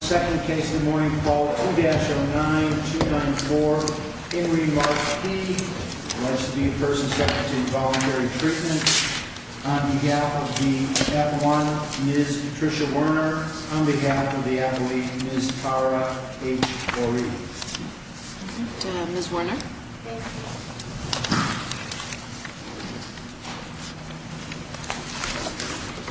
Second case in the morning, call 2-09-294 Henry Mark P, alleged to be a person subject to involuntary treatment. On behalf of the F1, Ms. Tricia Werner. On behalf of the athlete, Ms. Tara H. Doreen. Ms. Werner? Thank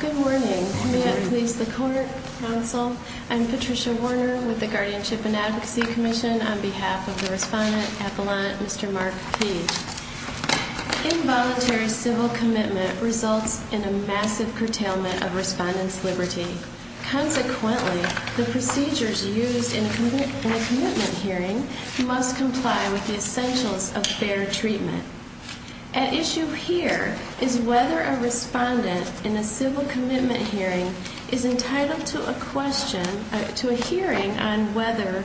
you. Good morning. Good morning. May I please the court, counsel? I'm Patricia Werner with the Guardianship and Advocacy Commission on behalf of the respondent at the line, Mr. Mark P. Involuntary civil commitment results in a massive curtailment of respondent's liberty. Consequently, the procedures used in a commitment hearing must comply with the essentials of fair treatment. At issue here is whether a respondent in a civil commitment hearing is entitled to a question, to a hearing on whether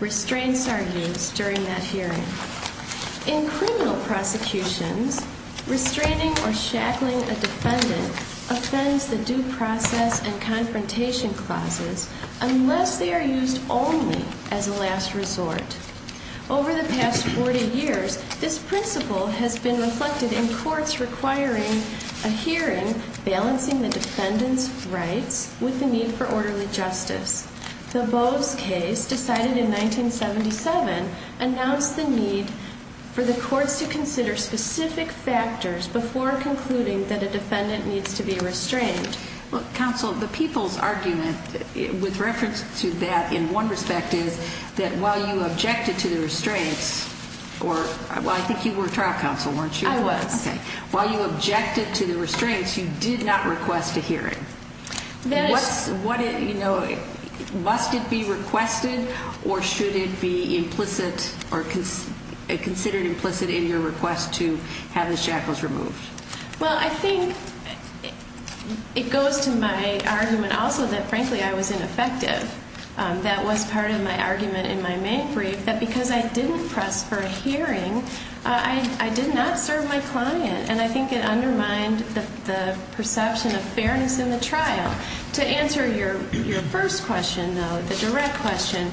restraints are used during that hearing. In criminal prosecutions, restraining or shackling a defendant offends the due process and confrontation clauses unless they are used only as a last resort. Over the past 40 years, this principle has been reflected in defendants' rights with the need for orderly justice. The Boves case, decided in 1977, announced the need for the courts to consider specific factors before concluding that a defendant needs to be restrained. Counsel, the people's argument with reference to that in one respect is that while you objected to the restraints, or I think you were a trial counsel, weren't you? I was. While you objected to the restraints, you did not request a hearing. Must it be requested or should it be implicit or considered implicit in your request to have the shackles removed? Well, I think it goes to my argument also that, frankly, I was ineffective. That was part of my argument in my May brief, that because I did not serve my client. And I think it undermined the perception of fairness in the trial. To answer your first question, though, the direct question,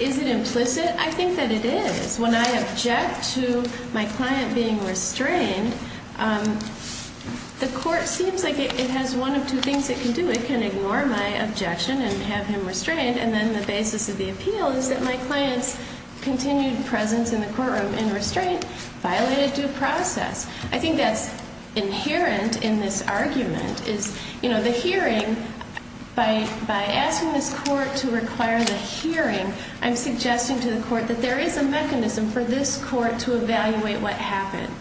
is it implicit? I think that it is. When I object to my client being restrained, the court seems like it has one of two things it can do. It can ignore my objection and have him restrained. And then the basis of the appeal is that my client's continued presence in the courtroom in restraint violated due process. I think that's inherent in this argument, is the hearing, by asking this court to require the hearing, I'm suggesting to the court that there is a mechanism for this court to evaluate what happened.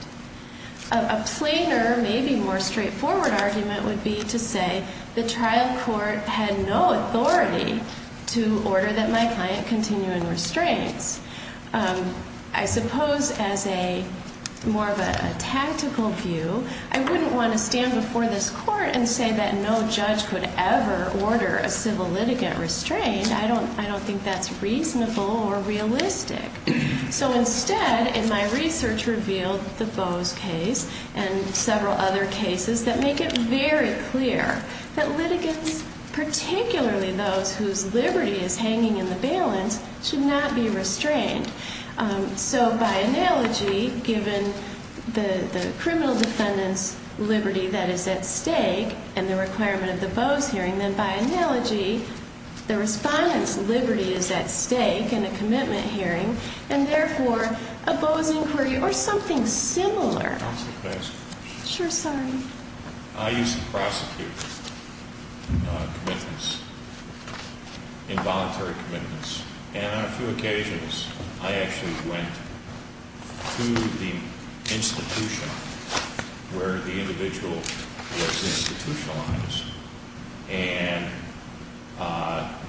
A plainer, maybe more straightforward argument would be to say the trial court had no authority to order that my client continue in restraints. I suppose as a more of a tactical view, I wouldn't want to stand before this court and say that no judge could ever order a civil litigant restrained. I don't think that's reasonable or realistic. So instead, in my research revealed the Bose case and several other cases, the court found that those who are at risk, particularly those whose liberty is hanging in the balance, should not be restrained. So by analogy, given the criminal defendant's liberty that is at stake and the requirement of the Bose hearing, then by analogy, the respondent's liberty is at stake in a commitment hearing and therefore a Bose inquiry or something similar. Counsel, may I ask you a question? Sure. Sorry. I used to prosecute commitments, involuntary commitments. And on a few occasions, I actually went to the institution where the individual was institutionalized and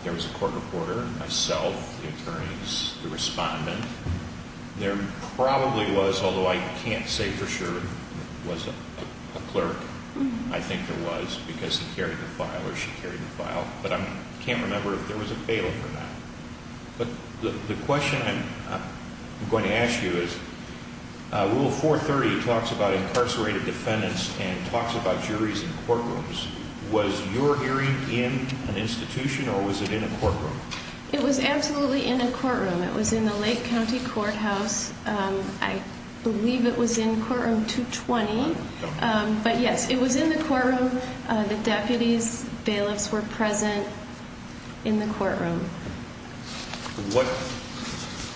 there was a court reporter, myself, the attorneys, the respondent. There probably was, although I can't say for sure, was a clerk. I think there was because he carried the file or she carried the file. But I can't remember if there was a bailiff or not. But the question I'm going to ask you is Rule 430 talks about incarcerated defendants and talks about juries in courtrooms. Was your hearing in an institution or was it in a courtroom? It was absolutely in a courtroom. It was in the Lake County Courthouse. I believe it was in courtroom 220. But, yes, it was in the courtroom. The deputies, bailiffs were present in the courtroom.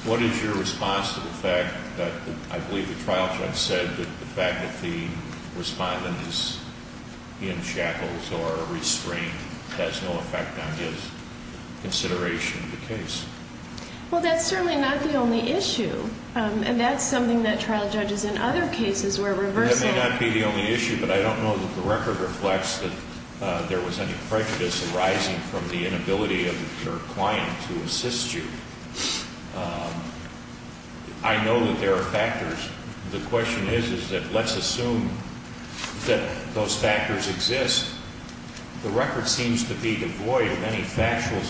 What is your response to the fact that I believe the trial judge said that the fact that the respondent is in shackles or restrained has no effect on his consideration of the case? Well, that's certainly not the only issue, and that's something that trial judges in other cases where reversal. That may not be the only issue, but I don't know that the record reflects that there was any prejudice arising from the inability of your client to assist you. I know that there are factors. The question is that let's assume that those factors exist. The record seems to be devoid of any factual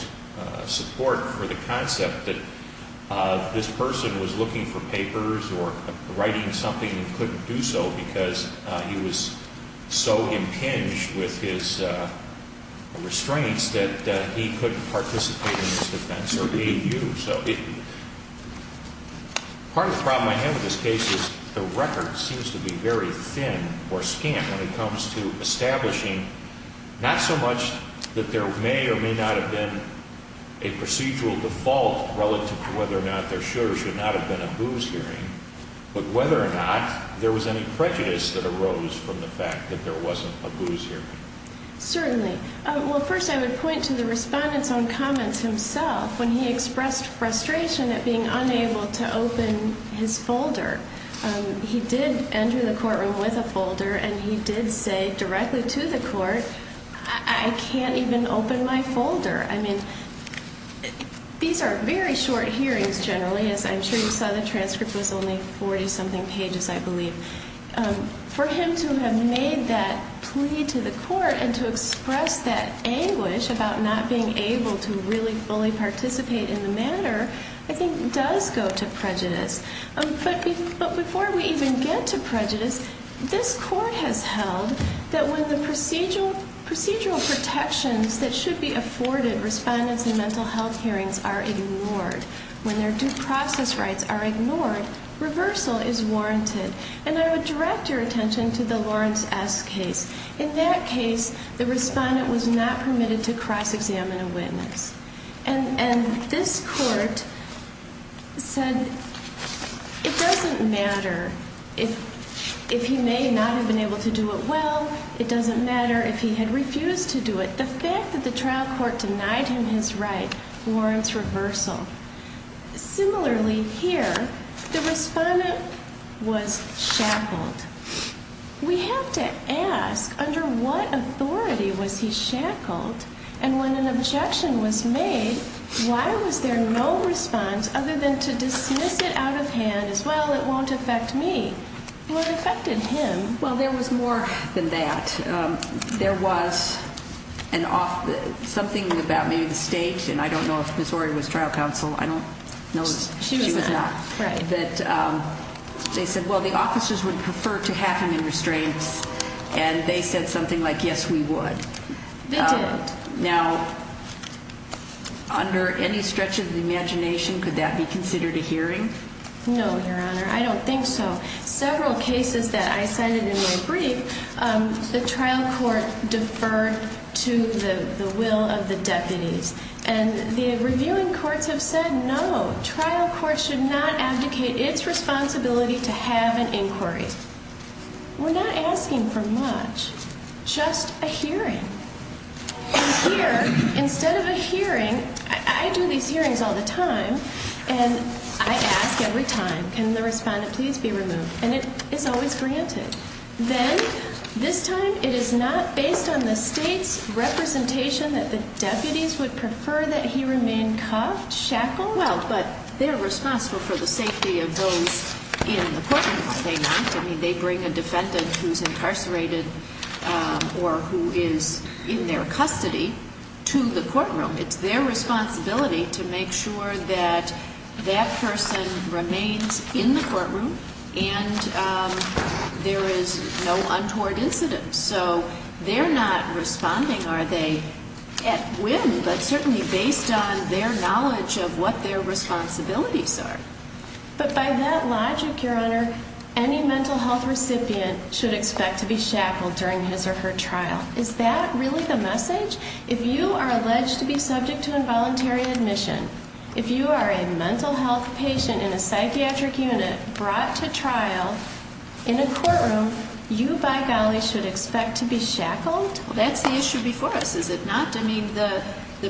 support for the concept that this person was looking for papers or writing something and couldn't do so because he was so impinged with his restraints that he couldn't participate in this defense or aid you. Part of the problem I have with this case is the record seems to be very thin or scant when it comes to establishing not so much that there may or may not have been a procedural default relative to whether or not there should or should not have been a booze hearing, but whether or not there was any prejudice that arose from the fact that there wasn't a booze hearing. Certainly. Well, first I would point to the respondent's own comments himself when he expressed frustration at being unable to open his folder. He did enter the courtroom with a folder, and he did say directly to the court, I can't even open my folder. I mean, these are very short hearings generally, as I'm sure you saw the transcript was only 40-something pages, I believe. For him to have made that plea to the court and to express that anguish about not being able to really fully participate in the matter, I think does go to prejudice. But before we even get to prejudice, this court has held that when the procedural protections that should be afforded, respondents in mental health hearings are ignored, when their due process rights are ignored, reversal is warranted. And I would direct your attention to the Lawrence S. case. In that case, the respondent was not permitted to cross-examine a witness. And this court said it doesn't matter if he may not have been able to do it well. It doesn't matter if he had refused to do it. The fact that the trial court denied him his right warrants reversal. Similarly here, the respondent was shackled. We have to ask, under what authority was he shackled? And when an objection was made, why was there no response other than to dismiss it out of hand as, well, it won't affect me? What affected him? Well, there was more than that. There was something about maybe the state, and I don't know if Ms. Warrior was trial counsel. She was not. They said, well, the officers would prefer to have him in restraints. And they said something like, yes, we would. They did. Now, under any stretch of the imagination, could that be considered a hearing? No, Your Honor, I don't think so. Several cases that I cited in my brief, the trial court deferred to the will of the deputies. And the reviewing courts have said, no, trial courts should not abdicate its responsibility to have an inquiry. We're not asking for much. Just a hearing. And here, instead of a hearing, I do these hearings all the time, and I ask every time, can the respondent please be removed? And it's always granted. Then, this time, it is not based on the state's representation that the deputies would prefer that he remain cuffed, shackled? Well, but they're responsible for the safety of those in the courtroom, are they not? I mean, they bring a defendant who's incarcerated or who is in their custody to the courtroom. It's their responsibility to make sure that that person remains in the courtroom and there is no untoward incident. So they're not responding, are they, at whim, but certainly based on their knowledge of what their responsibilities are. But by that logic, Your Honor, any mental health recipient should expect to be shackled during his or her trial. Is that really the message? If you are alleged to be subject to involuntary admission, if you are a mental health patient in a psychiatric unit brought to trial in a courtroom, you, by golly, should expect to be shackled? That's the issue before us, is it not? I mean, the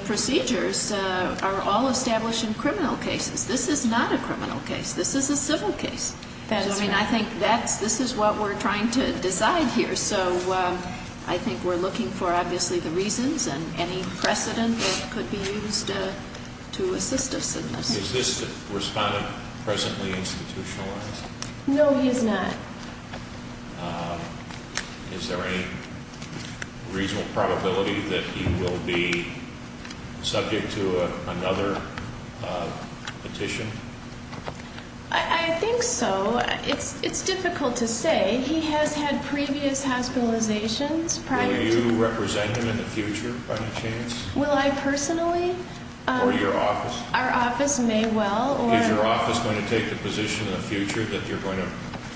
procedures are all established in criminal cases. This is not a criminal case. This is a civil case. I mean, I think this is what we're trying to decide here. So I think we're looking for, obviously, the reasons and any precedent that could be used to assist us in this. Is this respondent presently institutionalized? No, he is not. Is there any reasonable probability that he will be subject to another petition? I think so. It's difficult to say. He has had previous hospitalizations prior to this. Will you represent him in the future, by any chance? Will I personally? Or your office? Our office may well. Is your office going to take the position in the future that you're going to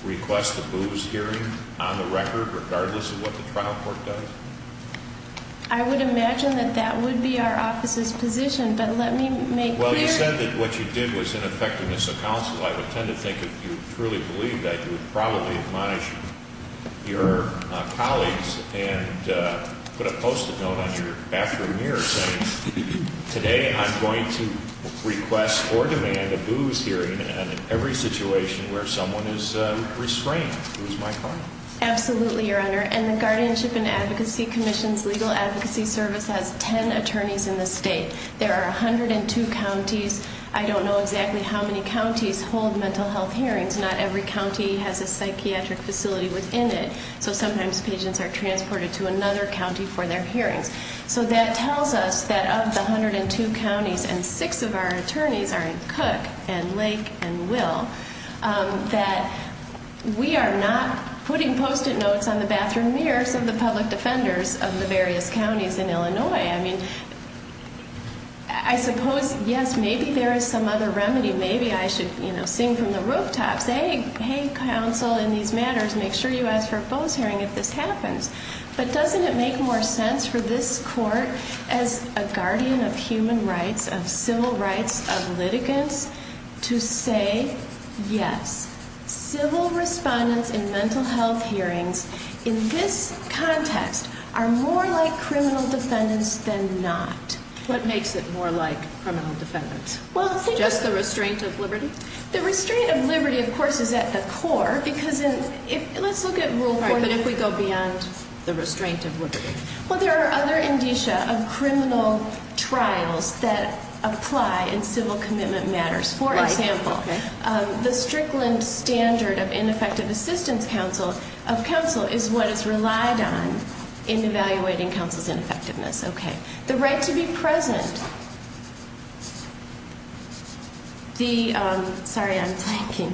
request a booze hearing on the record, regardless of what the trial court does? I would imagine that that would be our office's position. But let me make clear. Well, you said that what you did was in effectiveness of counsel. I would tend to think if you truly believed that, you would probably admonish your colleagues and put a post-it note on your bathroom mirror saying, Today I'm going to request or demand a booze hearing in every situation where someone is restrained. It was my client. Absolutely, Your Honor. And the Guardianship and Advocacy Commission's Legal Advocacy Service has 10 attorneys in the state. There are 102 counties. I don't know exactly how many counties hold mental health hearings. Not every county has a psychiatric facility within it. So sometimes patients are transported to another county for their hearings. So that tells us that of the 102 counties, and six of our attorneys are in Cook and Lake and Will, that we are not putting post-it notes on the bathroom mirrors of the public defenders of the various counties in Illinois. I mean, I suppose, yes, maybe there is some other remedy. Maybe I should, you know, sing from the rooftops. Hey, hey, counsel in these matters, make sure you ask for a booze hearing if this happens. But doesn't it make more sense for this court, as a guardian of human rights, of civil rights, of litigants, to say, yes, civil respondents in mental health hearings, in this context, are more like criminal defendants than not? What makes it more like criminal defendants? Just the restraint of liberty? The restraint of liberty, of course, is at the core. Let's look at Rule 40, but if we go beyond the restraint of liberty. Well, there are other indicia of criminal trials that apply in civil commitment matters. For example, the Strickland Standard of Ineffective Assistance of Counsel is what is relied on in evaluating counsel's ineffectiveness. Okay. The right to be present. The, sorry, I'm blanking.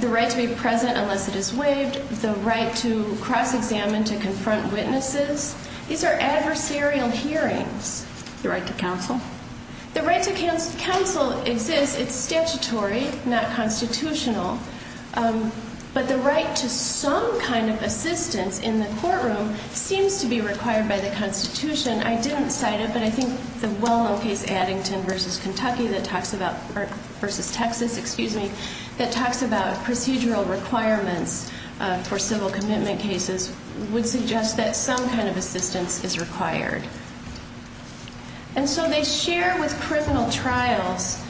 The right to be present unless it is waived. The right to cross-examine to confront witnesses. These are adversarial hearings. The right to counsel? The right to counsel exists. It's statutory, not constitutional. But the right to some kind of assistance in the courtroom seems to be required by the Constitution. I didn't cite it, but I think the well-known case, Addington v. Texas, that talks about procedural requirements for civil commitment cases would suggest that some kind of assistance is required. And so they share with criminal trials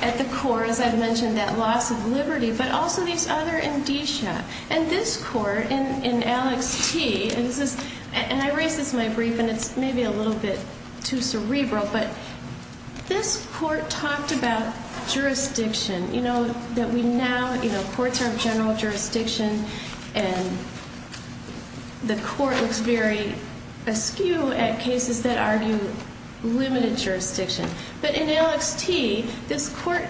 at the core, as I've mentioned, that loss of liberty, but also these other indicia. And this court, in Alex T. And I raised this in my brief, and it's maybe a little bit too cerebral, but this court talked about jurisdiction. You know, that we now, you know, courts are of general jurisdiction, and the court looks very askew at cases that argue limited jurisdiction. But in Alex T., this court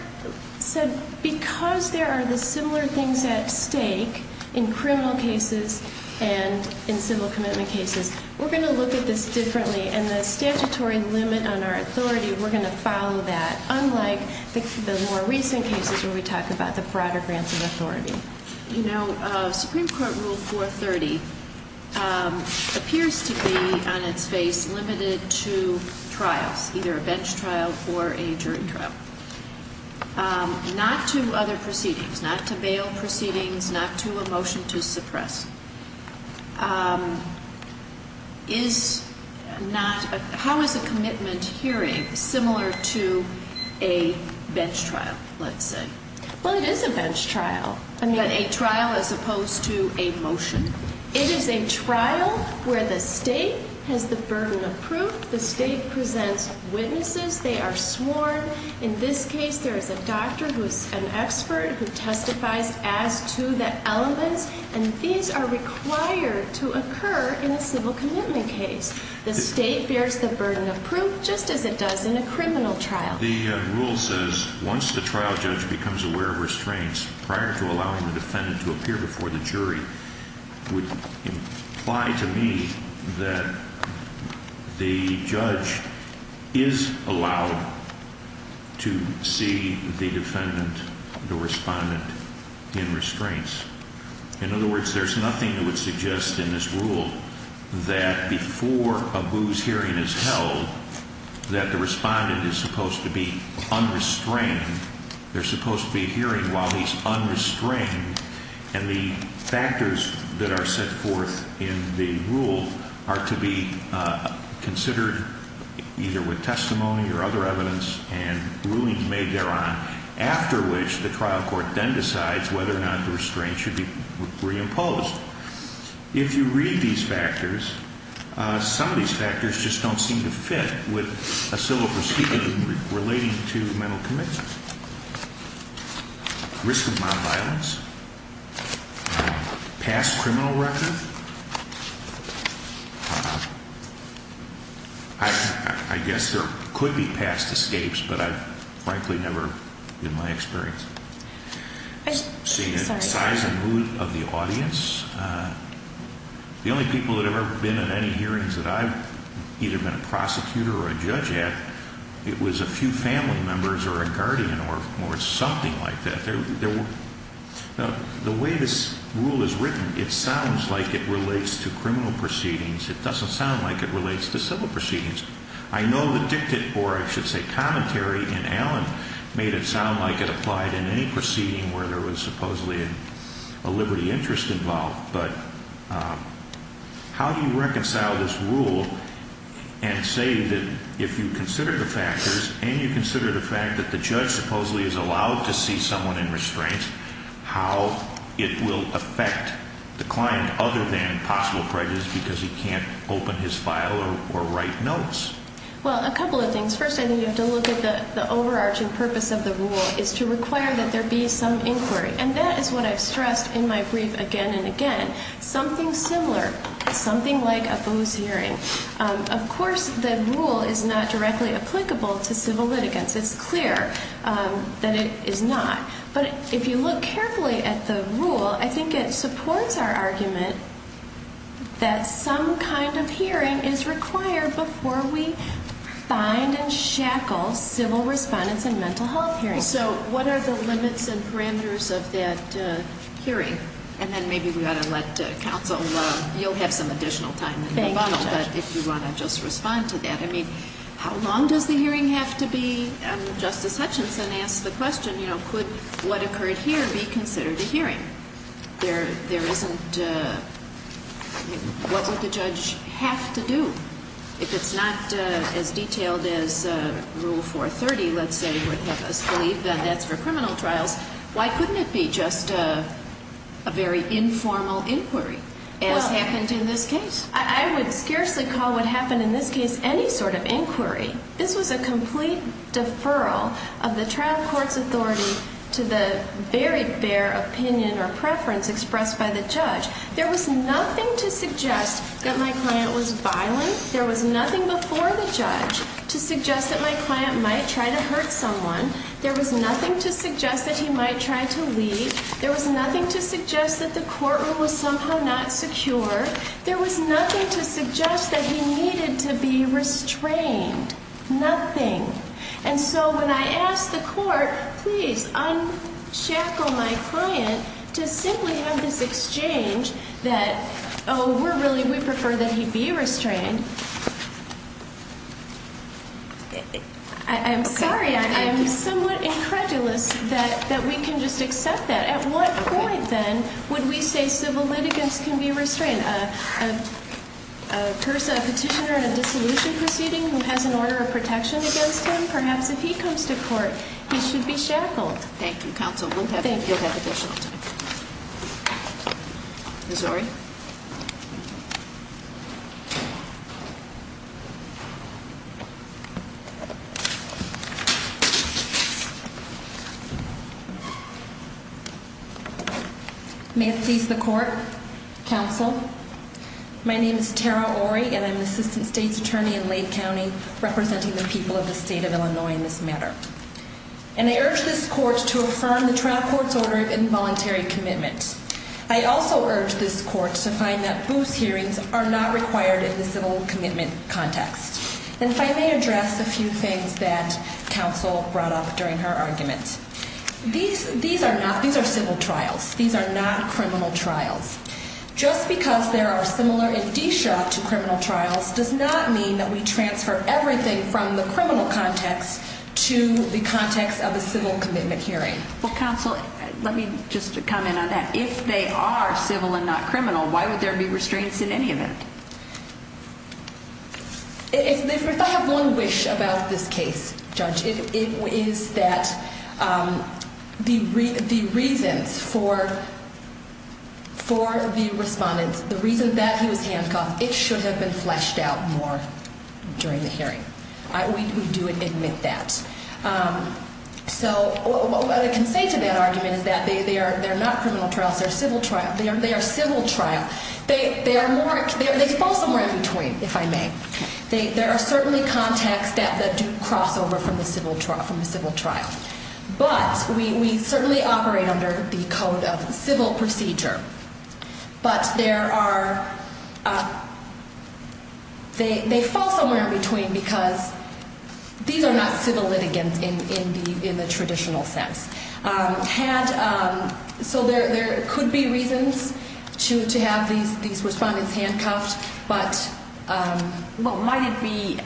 said, because there are the similar things at stake in criminal cases and in civil commitment cases, we're going to look at this differently, and the statutory limit on our authority, we're going to follow that, unlike the more recent cases where we talk about the broader grants of authority. You know, Supreme Court Rule 430 appears to be, on its face, limited to trials, either a bench trial or a jury trial. Not to other proceedings, not to bail proceedings, not to a motion to suppress. How is a commitment hearing similar to a bench trial, let's say? Well, it is a bench trial. I mean, a trial as opposed to a motion. It is a trial where the state has the burden of proof. The state presents witnesses. They are sworn. In this case, there is a doctor who is an expert who testifies as to the elements, and these are required to occur in a civil commitment case. The state bears the burden of proof, just as it does in a criminal trial. The rule says, once the trial judge becomes aware of restraints, prior to allowing the defendant to appear before the jury, would imply to me that the judge is allowed to see the defendant, the respondent, in restraints. In other words, there's nothing that would suggest in this rule that before a booze hearing is held, that the respondent is supposed to be unrestrained. They're supposed to be hearing while he's unrestrained, and the factors that are set forth in the rule are to be considered either with testimony or other evidence and rulings made thereon, after which the trial court then decides whether or not the restraints should be reimposed. If you read these factors, some of these factors just don't seem to fit with a civil proceeding relating to mental commitment. Risk of nonviolence. Past criminal record. I guess there could be past escapes, but I've frankly never, in my experience, seen it. Size and mood of the audience. The only people that have ever been at any hearings that I've either been a prosecutor or a judge at, it was a few family members or a guardian or something like that. The way this rule is written, it sounds like it relates to criminal proceedings. It doesn't sound like it relates to civil proceedings. I know the dictate, or I should say commentary in Allen, made it sound like it applied in any proceeding where there was supposedly a liberty interest involved. But how do you reconcile this rule and say that if you consider the factors and you consider the fact that the judge supposedly is allowed to see someone in restraint, how it will affect the client other than possible prejudice because he can't open his file or write notes? Well, a couple of things. First, I think you have to look at the overarching purpose of the rule is to require that there be some inquiry. And that is what I've stressed in my brief again and again. Something similar, something like a booze hearing. Of course, the rule is not directly applicable to civil litigants. It's clear that it is not. But if you look carefully at the rule, I think it supports our argument that some kind of hearing is required before we find and shackle civil respondents in mental health hearings. So what are the limits and parameters of that hearing? And then maybe we ought to let counsel, you'll have some additional time in the bottle. Thank you, Judge. But if you want to just respond to that. I mean, how long does the hearing have to be? Justice Hutchinson asked the question, you know, could what occurred here be considered a hearing? There isn't, what would the judge have to do? If it's not as detailed as Rule 430, let's say, would have us believe that that's for criminal trials, why couldn't it be just a very informal inquiry as happened in this case? I would scarcely call what happened in this case any sort of inquiry. This was a complete deferral of the trial court's authority to the very bare opinion or preference expressed by the judge. There was nothing to suggest that my client was violent. There was nothing before the judge to suggest that my client might try to hurt someone. There was nothing to suggest that he might try to leave. There was nothing to suggest that the courtroom was somehow not secure. There was nothing to suggest that he needed to be restrained. Nothing. And so when I asked the court, please, unshackle my client to simply have this exchange that, oh, we're really, we prefer that he be restrained. I'm sorry. I'm somewhat incredulous that we can just accept that. At what point, then, would we say civil litigants can be restrained? A petitioner in a dissolution proceeding who has an order of protection against him, perhaps if he comes to court, he should be shackled. Thank you, counsel. We'll have additional time. Thank you. May it please the court, counsel. My name is Tara Ory, and I'm the assistant state's attorney in Lane County, representing the people of the state of Illinois in this matter. And I urge this court to affirm the trial court's order of involuntary commitment. I also urge this court to find that booze hearings are not required in the civil commitment context. And if I may address a few things that counsel brought up during her argument. These are not, these are civil trials. These are not criminal trials. Just because they are similar in DESHOP to criminal trials does not mean that we transfer everything from the criminal context to the context of a civil commitment hearing. Well, counsel, let me just comment on that. If they are civil and not criminal, why would there be restraints in any of it? If I have one wish about this case, Judge, it is that the reasons for the respondents, the reason that he was handcuffed, it should have been fleshed out more during the hearing. We do admit that. So what I can say to that argument is that they are not criminal trials. They are civil trials. They are civil trials. They fall somewhere in between, if I may. There are certainly contexts that do cross over from the civil trial. But we certainly operate under the code of civil procedure. But there are, they fall somewhere in between because these are not civil litigants in the traditional sense. So there could be reasons to have these respondents handcuffed, but... Well, might it be,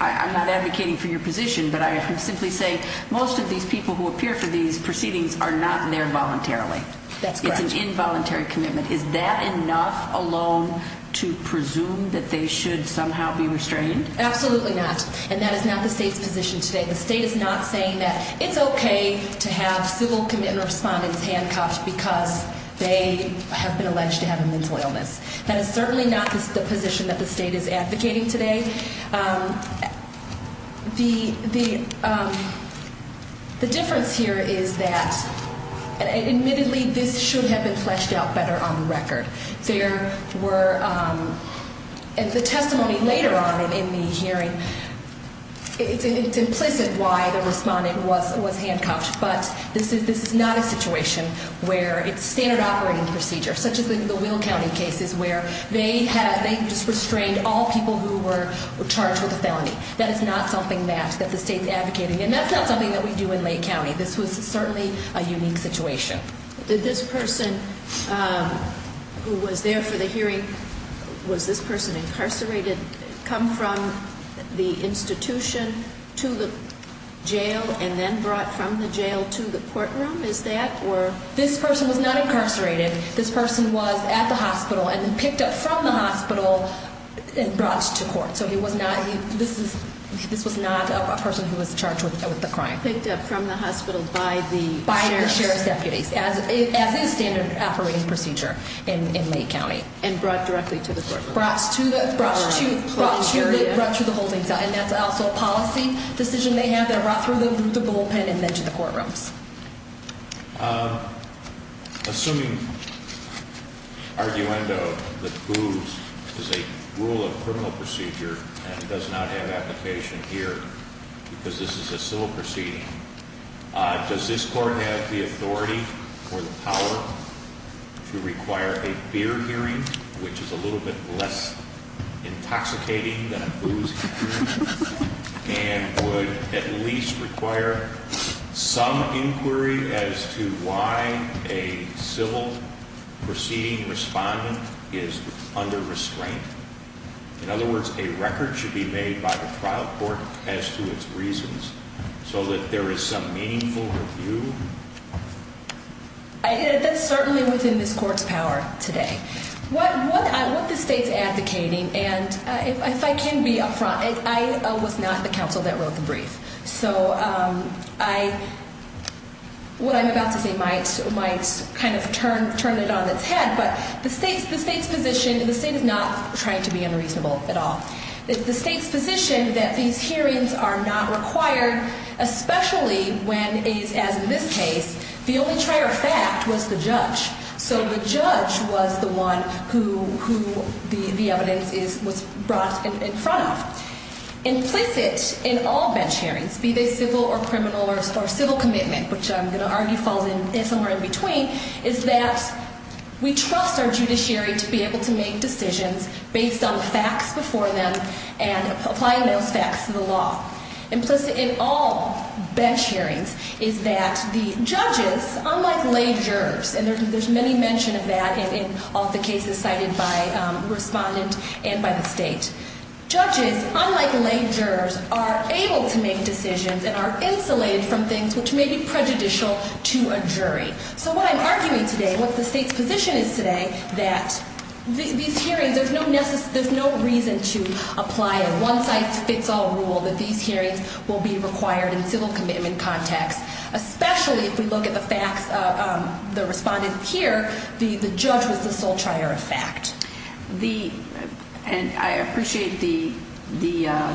I'm not advocating for your position, but I can simply say most of these people who appear for these proceedings are not there voluntarily. That's correct. It's an involuntary commitment. Is that enough alone to presume that they should somehow be restrained? Absolutely not. And that is not the state's position today. The state is not saying that it's okay to have civil committant respondents handcuffed because they have been alleged to have a mental illness. That is certainly not the position that the state is advocating today. The difference here is that, admittedly, this should have been fleshed out better on the record. There were, and the testimony later on in the hearing, it's implicit why the respondent was handcuffed. But this is not a situation where it's standard operating procedure, such as the Will County cases where they had, they just restrained all people who were charged with a felony. That is not something that the state is advocating. And that's not something that we do in Lake County. This was certainly a unique situation. Did this person who was there for the hearing, was this person incarcerated, come from the institution to the jail and then brought from the jail to the courtroom? Is that, or? This person was not incarcerated. This person was at the hospital and then picked up from the hospital and brought to court. So he was not, this was not a person who was charged with a crime. He was not picked up from the hospital by the sheriff's deputies, as is standard operating procedure in Lake County. And brought directly to the courtroom. Brought to the holding cell. And that's also a policy decision they have. They're brought through the bullpen and then to the courtrooms. Assuming, arguendo, that booze is a rule of criminal procedure and does not have application here because this is a civil proceeding. Does this court have the authority or the power to require a beer hearing? Which is a little bit less intoxicating than a booze hearing. And would at least require some inquiry as to why a civil proceeding respondent is under restraint. In other words, a record should be made by the trial court as to its reasons. So that there is some meaningful review. That's certainly within this court's power today. What the state's advocating, and if I can be up front, I was not the counsel that wrote the brief. So I, what I'm about to say might kind of turn it on its head. But the state's position, the state is not trying to be unreasonable at all. The state's position that these hearings are not required, especially when, as in this case, the only prior fact was the judge. So the judge was the one who the evidence was brought in front of. Implicit in all bench hearings, be they civil or criminal or civil commitment, which I'm going to argue falls somewhere in between, is that we trust our judiciary to be able to make decisions based on facts before them and applying those facts to the law. Implicit in all bench hearings is that the judges, unlike lay jurors, and there's many mention of that in all the cases cited by respondent and by the state, judges, unlike lay jurors, are able to make decisions and are insulated from things which may be prejudicial to a jury. So what I'm arguing today, what the state's position is today, that these hearings, there's no reason to apply a one-size-fits-all rule that these hearings will be required in civil commitment context, especially if we look at the facts, the respondent here, the judge was the sole trier of fact. And I appreciate the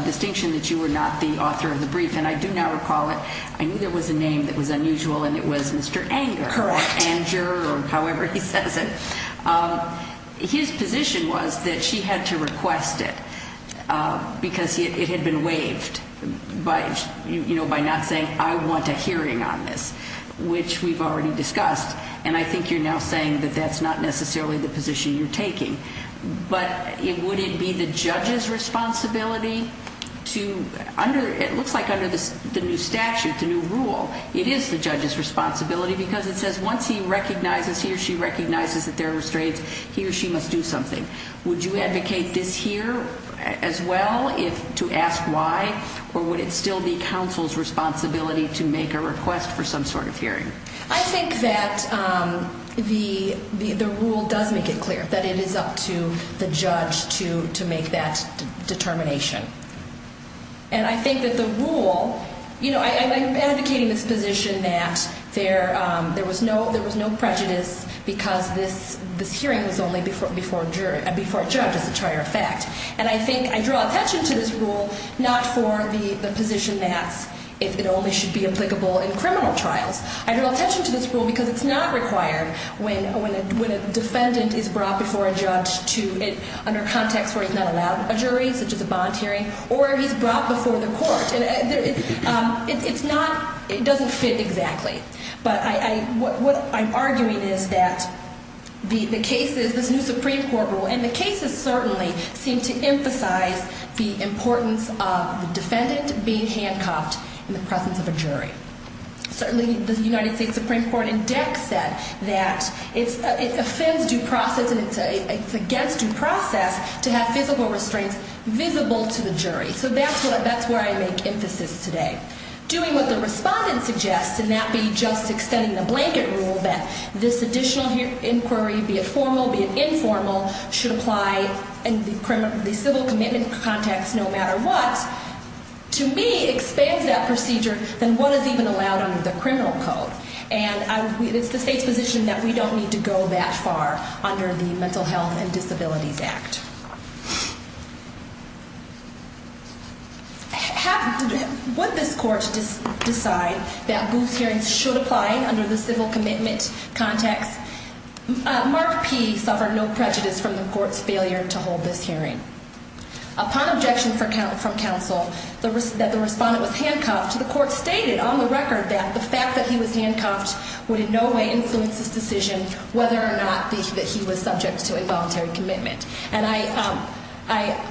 distinction that you were not the author of the brief, and I do not recall it. I knew there was a name that was unusual, and it was Mr. Anger. Correct. Anger, or however he says it. His position was that she had to request it because it had been waived by not saying, I want a hearing on this, which we've already discussed. And I think you're now saying that that's not necessarily the position you're taking. But would it be the judge's responsibility to, under, it looks like under the new statute, the new rule, it is the judge's responsibility because it says once he recognizes, he or she recognizes that there are restraints, he or she must do something. Would you advocate this here as well, to ask why? Or would it still be counsel's responsibility to make a request for some sort of hearing? I think that the rule does make it clear that it is up to the judge to make that determination. And I think that the rule, you know, I'm advocating this position that there was no prejudice because this hearing was only before a judge, as a prior fact. And I think I draw attention to this rule not for the position that it only should be applicable in criminal trials. I draw attention to this rule because it's not required when a defendant is brought before a judge under a context where he's not allowed a jury, such as a bond hearing, or he's brought before the court. It's not, it doesn't fit exactly. But what I'm arguing is that the cases, this new Supreme Court rule, and the cases certainly seem to emphasize the importance of the defendant being handcuffed in the presence of a jury. Certainly the United States Supreme Court in DEC said that it offends due process and it's against due process to have physical restraints visible to the jury. So that's where I make emphasis today. Doing what the respondent suggests, and that be just extending the blanket rule that this additional inquiry, be it formal, be it informal, should apply in the civil commitment context no matter what, to me expands that procedure than what is even allowed under the criminal code. And it's the state's position that we don't need to go that far under the Mental Health and Disabilities Act. Would this court decide that booth hearings should apply under the civil commitment context? Mark P suffered no prejudice from the court's failure to hold this hearing. Upon objection from counsel that the respondent was handcuffed, the court stated on the record that the fact that he was handcuffed would in no way influence this decision whether or not that he was subject to involuntary commitment. And I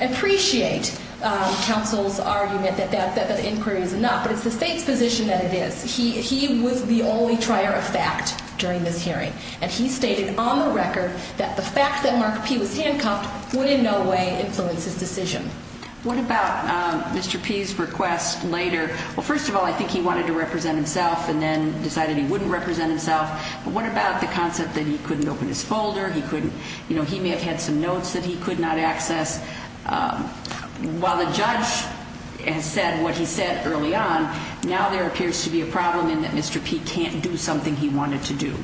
appreciate counsel's argument that the inquiry is not, but it's the state's position that it is. He was the only trier of fact during this hearing. And he stated on the record that the fact that Mark P was handcuffed would in no way influence his decision. What about Mr. P's request later? Well, first of all, I think he wanted to represent himself and then decided he wouldn't represent himself. But what about the concept that he couldn't open his folder? He may have had some notes that he could not access. While the judge has said what he said early on, now there appears to be a problem in that Mr. P can't do something he wanted to do.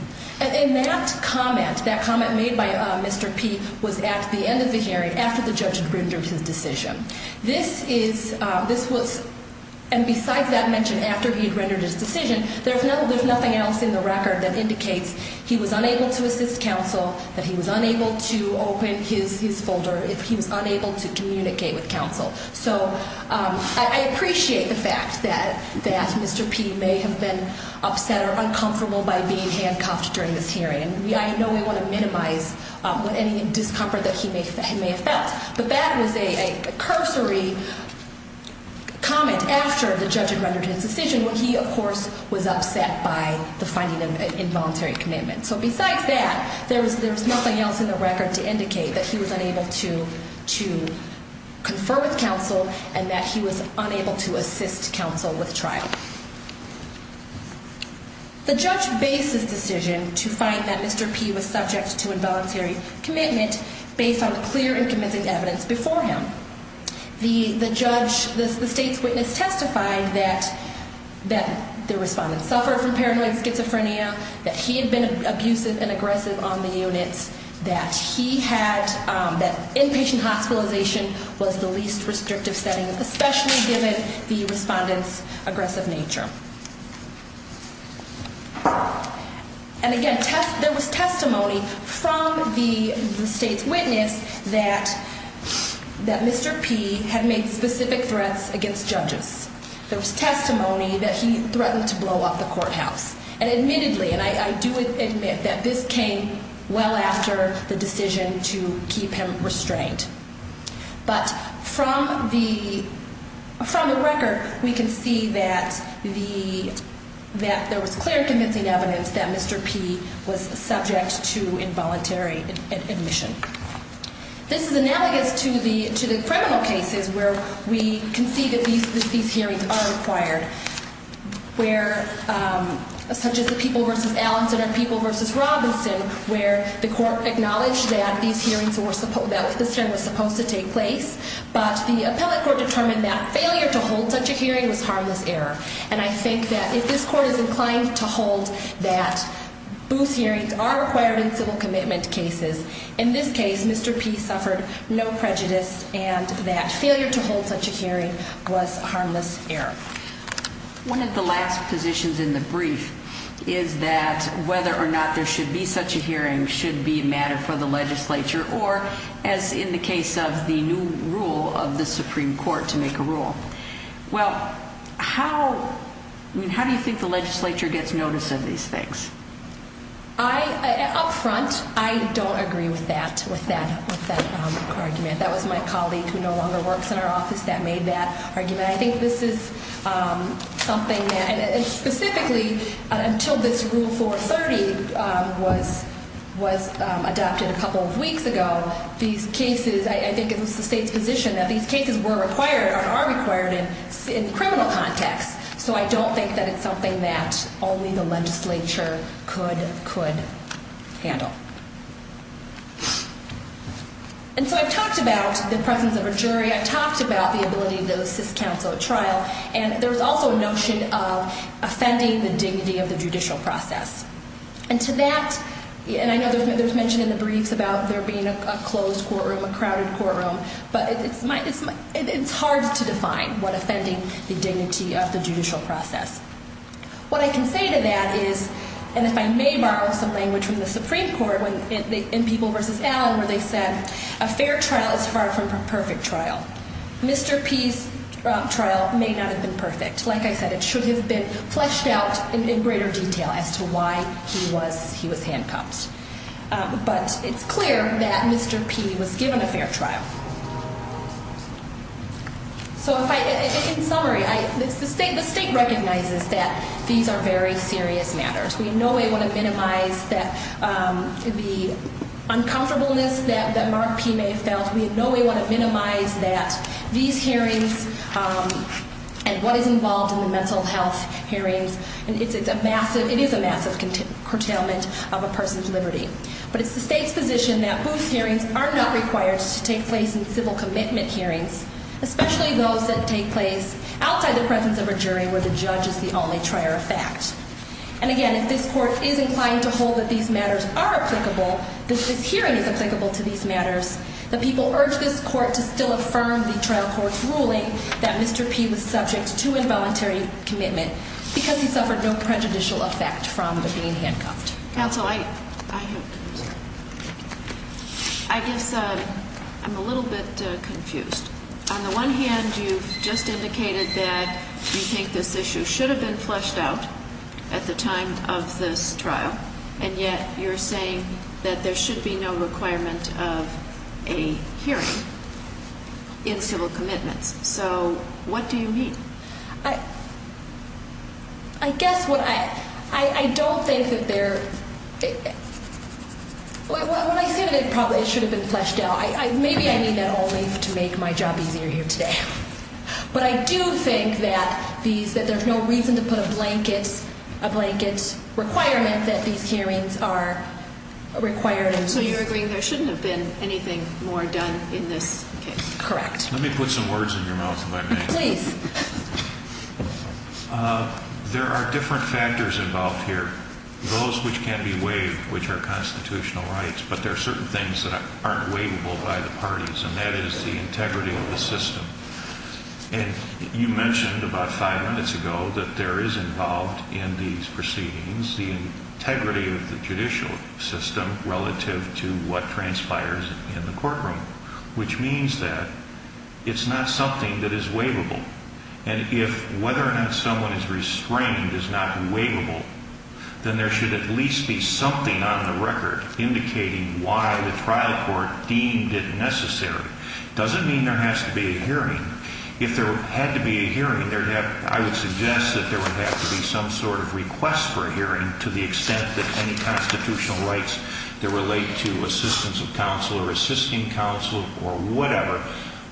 And that comment, that comment made by Mr. P, was at the end of the hearing after the judge had rendered his decision. This is, this was, and besides that mention after he had rendered his decision, there's nothing else in the record that indicates he was unable to assist counsel, that he was unable to open his folder, he was unable to communicate with counsel. So I appreciate the fact that Mr. P may have been upset or uncomfortable by being handcuffed during this hearing. I know we want to minimize any discomfort that he may have felt. But that was a cursory comment after the judge had rendered his decision, when he, of course, was upset by the finding of an involuntary commitment. So besides that, there's nothing else in the record to indicate that he was unable to confer with counsel and that he was unable to assist counsel with trial. The judge based his decision to find that Mr. P was subject to involuntary commitment based on the clear and convincing evidence before him. The judge, the state's witness testified that the respondent suffered from paranoid schizophrenia, that he had been abusive and aggressive on the units, that he had, that inpatient hospitalization was the least restrictive setting, especially given the respondent's aggressive nature. And again, there was testimony from the state's witness that Mr. P had made specific threats against judges. There was testimony that he threatened to blow up the courthouse and admittedly, and I do admit that this came well after the decision to keep him restrained. But from the record, we can see that there was clear convincing evidence that Mr. P was subject to involuntary admission. This is analogous to the criminal cases where we can see that these hearings are required, such as the People v. Allenson or People v. Robinson, where the court acknowledged that these hearings were supposed to take place, but the appellate court determined that failure to hold such a hearing was harmless error. And I think that if this court is inclined to hold that booth hearings are required in civil commitment cases, in this case, Mr. P suffered no prejudice and that failure to hold such a hearing was a harmless error. One of the last positions in the brief is that whether or not there should be such a hearing should be a matter for the legislature or as in the case of the new rule of the Supreme Court to make a rule. Well, how do you think the legislature gets notice of these things? Up front, I don't agree with that argument. That was my colleague who no longer works in our office that made that argument. I think this is something that, and specifically until this Rule 430 was adopted a couple of weeks ago, these cases, I think it was the state's position that these cases were required or are required in the criminal context. So I don't think that it's something that only the legislature could handle. And so I've talked about the presence of a jury. I've talked about the ability to assist counsel at trial. And there's also a notion of offending the dignity of the judicial process. And to that, and I know there's mention in the briefs about there being a closed courtroom, a crowded courtroom, but it's hard to define what offending the dignity of the judicial process. What I can say to that is, and if I may borrow some language from the Supreme Court, in People v. Allen where they said, a fair trial is far from a perfect trial. Mr. P's trial may not have been perfect. Like I said, it should have been fleshed out in greater detail as to why he was handcuffed. But it's clear that Mr. P was given a fair trial. So in summary, the state recognizes that these are very serious matters. We in no way want to minimize the uncomfortableness that Mark P. May felt. We in no way want to minimize that these hearings and what is involved in the mental health hearings, it is a massive curtailment of a person's liberty. But it's the state's position that booth hearings are not required to take place in civil commitment hearings, especially those that take place outside the presence of a jury where the judge is the only trier of fact. And again, if this court is inclined to hold that these matters are applicable, that this hearing is applicable to these matters, the people urge this court to still affirm the trial court's ruling that Mr. P was subject to involuntary commitment because he suffered no prejudicial effect from being handcuffed. Counsel, I guess I'm a little bit confused. On the one hand, you've just indicated that you think this issue should have been fleshed out at the time of this trial, and yet you're saying that there should be no requirement of a hearing in civil commitments. So what do you mean? I guess what I – I don't think that there – when I say that it probably should have been fleshed out, maybe I mean that only to make my job easier here today. But I do think that there's no reason to put a blanket requirement that these hearings are required. So you're agreeing there shouldn't have been anything more done in this case? Correct. Let me put some words in your mouth if I may. Please. There are different factors involved here, those which can be waived, which are constitutional rights, but there are certain things that aren't waivable by the parties, and that is the integrity of the system. And you mentioned about five minutes ago that there is involved in these proceedings the integrity of the judicial system relative to what transpires in the courtroom, which means that it's not something that is waivable. And if whether or not someone is restrained is not waivable, then there should at least be something on the record indicating why the trial court deemed it necessary. It doesn't mean there has to be a hearing. If there had to be a hearing, I would suggest that there would have to be some sort of request for a hearing to the extent that any constitutional rights that relate to assistance of counsel or assisting counsel or whatever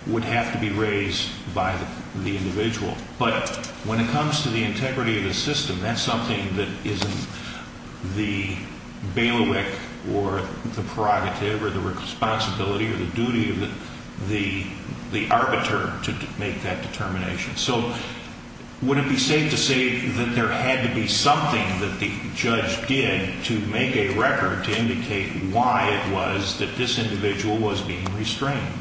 would have to be raised by the individual. But when it comes to the integrity of the system, that's something that isn't the bailiwick or the prerogative or the responsibility or the duty of the arbiter to make that determination. So would it be safe to say that there had to be something that the judge did to make a record to indicate why it was that this individual was being restrained?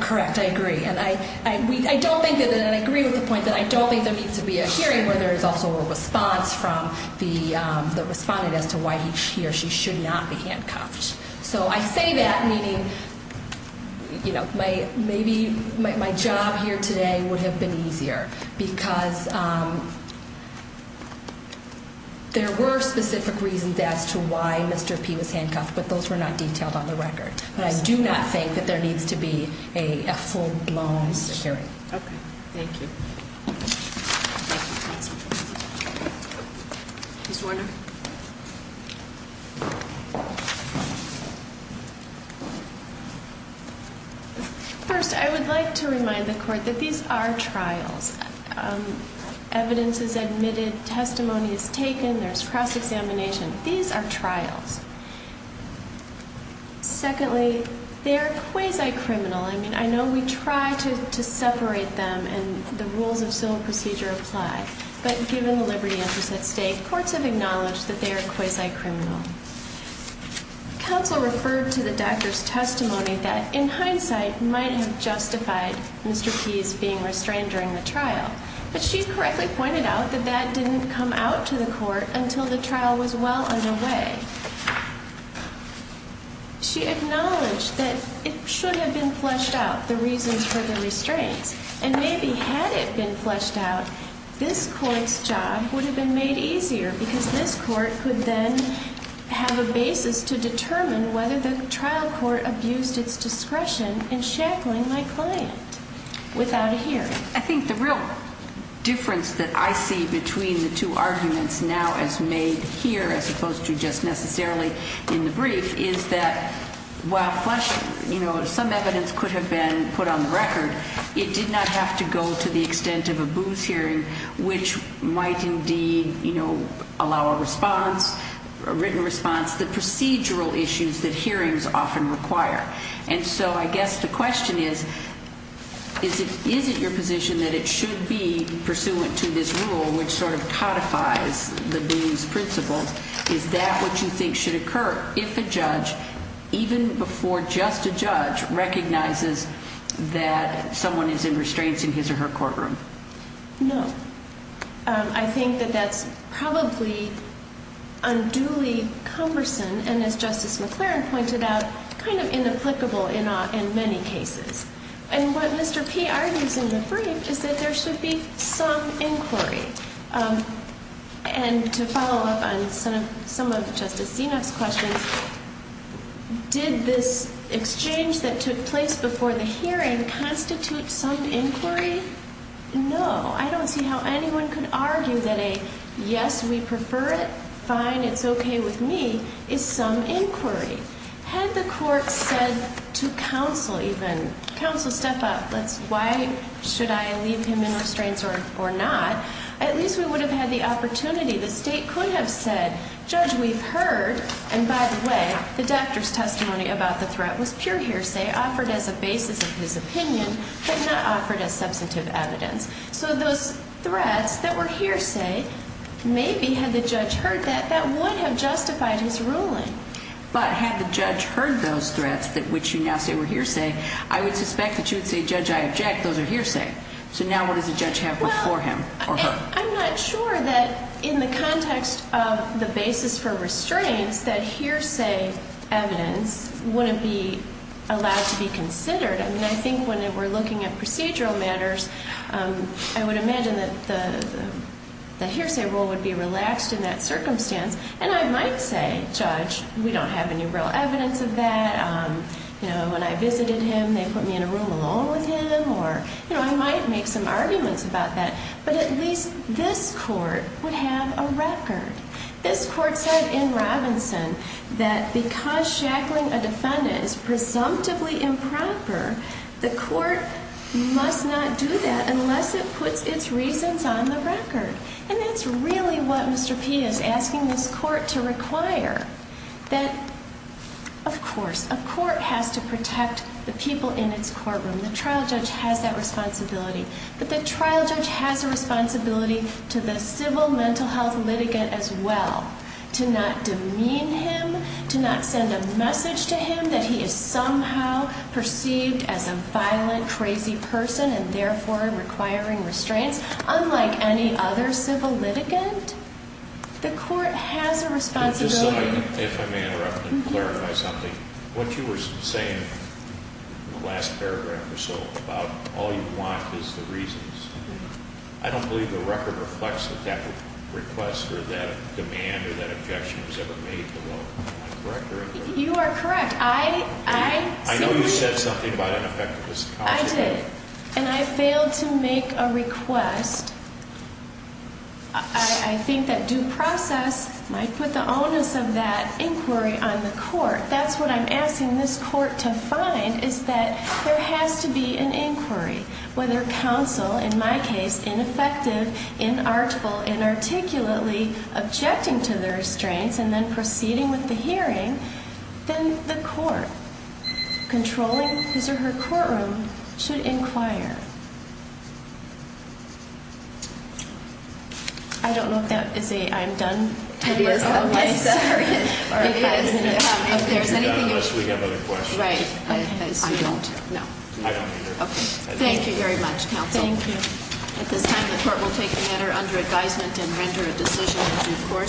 Correct. I agree. And I don't think that, and I agree with the point that I don't think there needs to be a hearing where there is also a response from the respondent as to why he or she should not be handcuffed. So I say that meaning, you know, maybe my job here today would have been easier because there were specific reasons as to why Mr. P was handcuffed, but those were not detailed on the record. But I do not think that there needs to be a full-blown hearing. Okay. Thank you. Ms. Warner. First, I would like to remind the Court that these are trials. Evidence is admitted, testimony is taken, there's cross-examination. These are trials. Secondly, they are quasi-criminal. I mean, I know we try to separate them and the rules of civil procedure apply, but given the liberty interest at stake, courts have acknowledged that they are quasi-criminal. Counsel referred to the doctor's testimony that, in hindsight, might have justified Mr. P's being restrained during the trial. But she correctly pointed out that that didn't come out to the court until the trial was well underway. She acknowledged that it should have been fleshed out, the reasons for the restraints, and maybe had it been fleshed out, this Court's job would have been made easier because this Court could then have a basis to determine whether the trial court abused its discretion in shackling my client without a hearing. I think the real difference that I see between the two arguments now as made here as opposed to just necessarily in the brief is that while some evidence could have been put on the record, it did not have to go to the extent of a booth hearing, which might indeed allow a written response, the procedural issues that hearings often require. And so I guess the question is, is it your position that it should be pursuant to this rule, which sort of codifies the Booth's principle? Is that what you think should occur if a judge, even before just a judge, recognizes that someone is in restraints in his or her courtroom? No. I think that that's probably unduly cumbersome and, as Justice McLaren pointed out, kind of inapplicable in many cases. And what Mr. P argues in the brief is that there should be some inquiry. And to follow up on some of Justice Zinoff's questions, did this exchange that took place before the hearing constitute some inquiry? No. I don't see how anyone could argue that a yes, we prefer it, fine, it's okay with me, is some inquiry. Had the court said to counsel even, counsel, step up, why should I leave him in restraints or not, at least we would have had the opportunity. The state could have said, Judge, we've heard, and by the way, the doctor's testimony about the threat was pure hearsay offered as a basis of his opinion but not offered as substantive evidence. So those threats that were hearsay, maybe had the judge heard that, that would have justified his ruling. But had the judge heard those threats, which you now say were hearsay, I would suspect that you would say, Judge, I object, those are hearsay. So now what does the judge have before him or her? Well, I'm not sure that in the context of the basis for restraints that hearsay evidence wouldn't be allowed to be considered. I mean, I think when we're looking at procedural matters, I would imagine that the hearsay rule would be relaxed in that circumstance. And I might say, Judge, we don't have any real evidence of that. You know, when I visited him, they put me in a room alone with him, or, you know, I might make some arguments about that. But at least this court would have a record. This court said in Robinson that because shackling a defendant is presumptively improper, the court must not do that unless it puts its reasons on the record. And that's really what Mr. P is asking this court to require, that, of course, a court has to protect the people in its courtroom. The trial judge has that responsibility. But the trial judge has a responsibility to the civil mental health litigant as well, to not demean him, to not send a message to him that he is somehow perceived as a violent, crazy person and therefore requiring restraints, unlike any other civil litigant. The court has a responsibility. If I may interrupt and clarify something, what you were saying in the last paragraph or so about all you want is the reasons, I don't believe the record reflects that that request or that demand or that objection was ever made below. Am I correct or incorrect? You are correct. I know you said something about ineffectiveness. I did. And I failed to make a request. I think that due process might put the onus of that inquiry on the court. That's what I'm asking this court to find is that there has to be an inquiry, whether counsel, in my case, ineffective, inarticulately objecting to the restraints and then proceeding with the hearing, then the court, controlling his or her courtroom, should inquire. I don't know if that is a I'm done type of question. Unless we have other questions. Right. I don't. I don't either. Okay. Thank you very much, counsel. Thank you. At this time, the court will take the matter under advisement and render a decision in due course.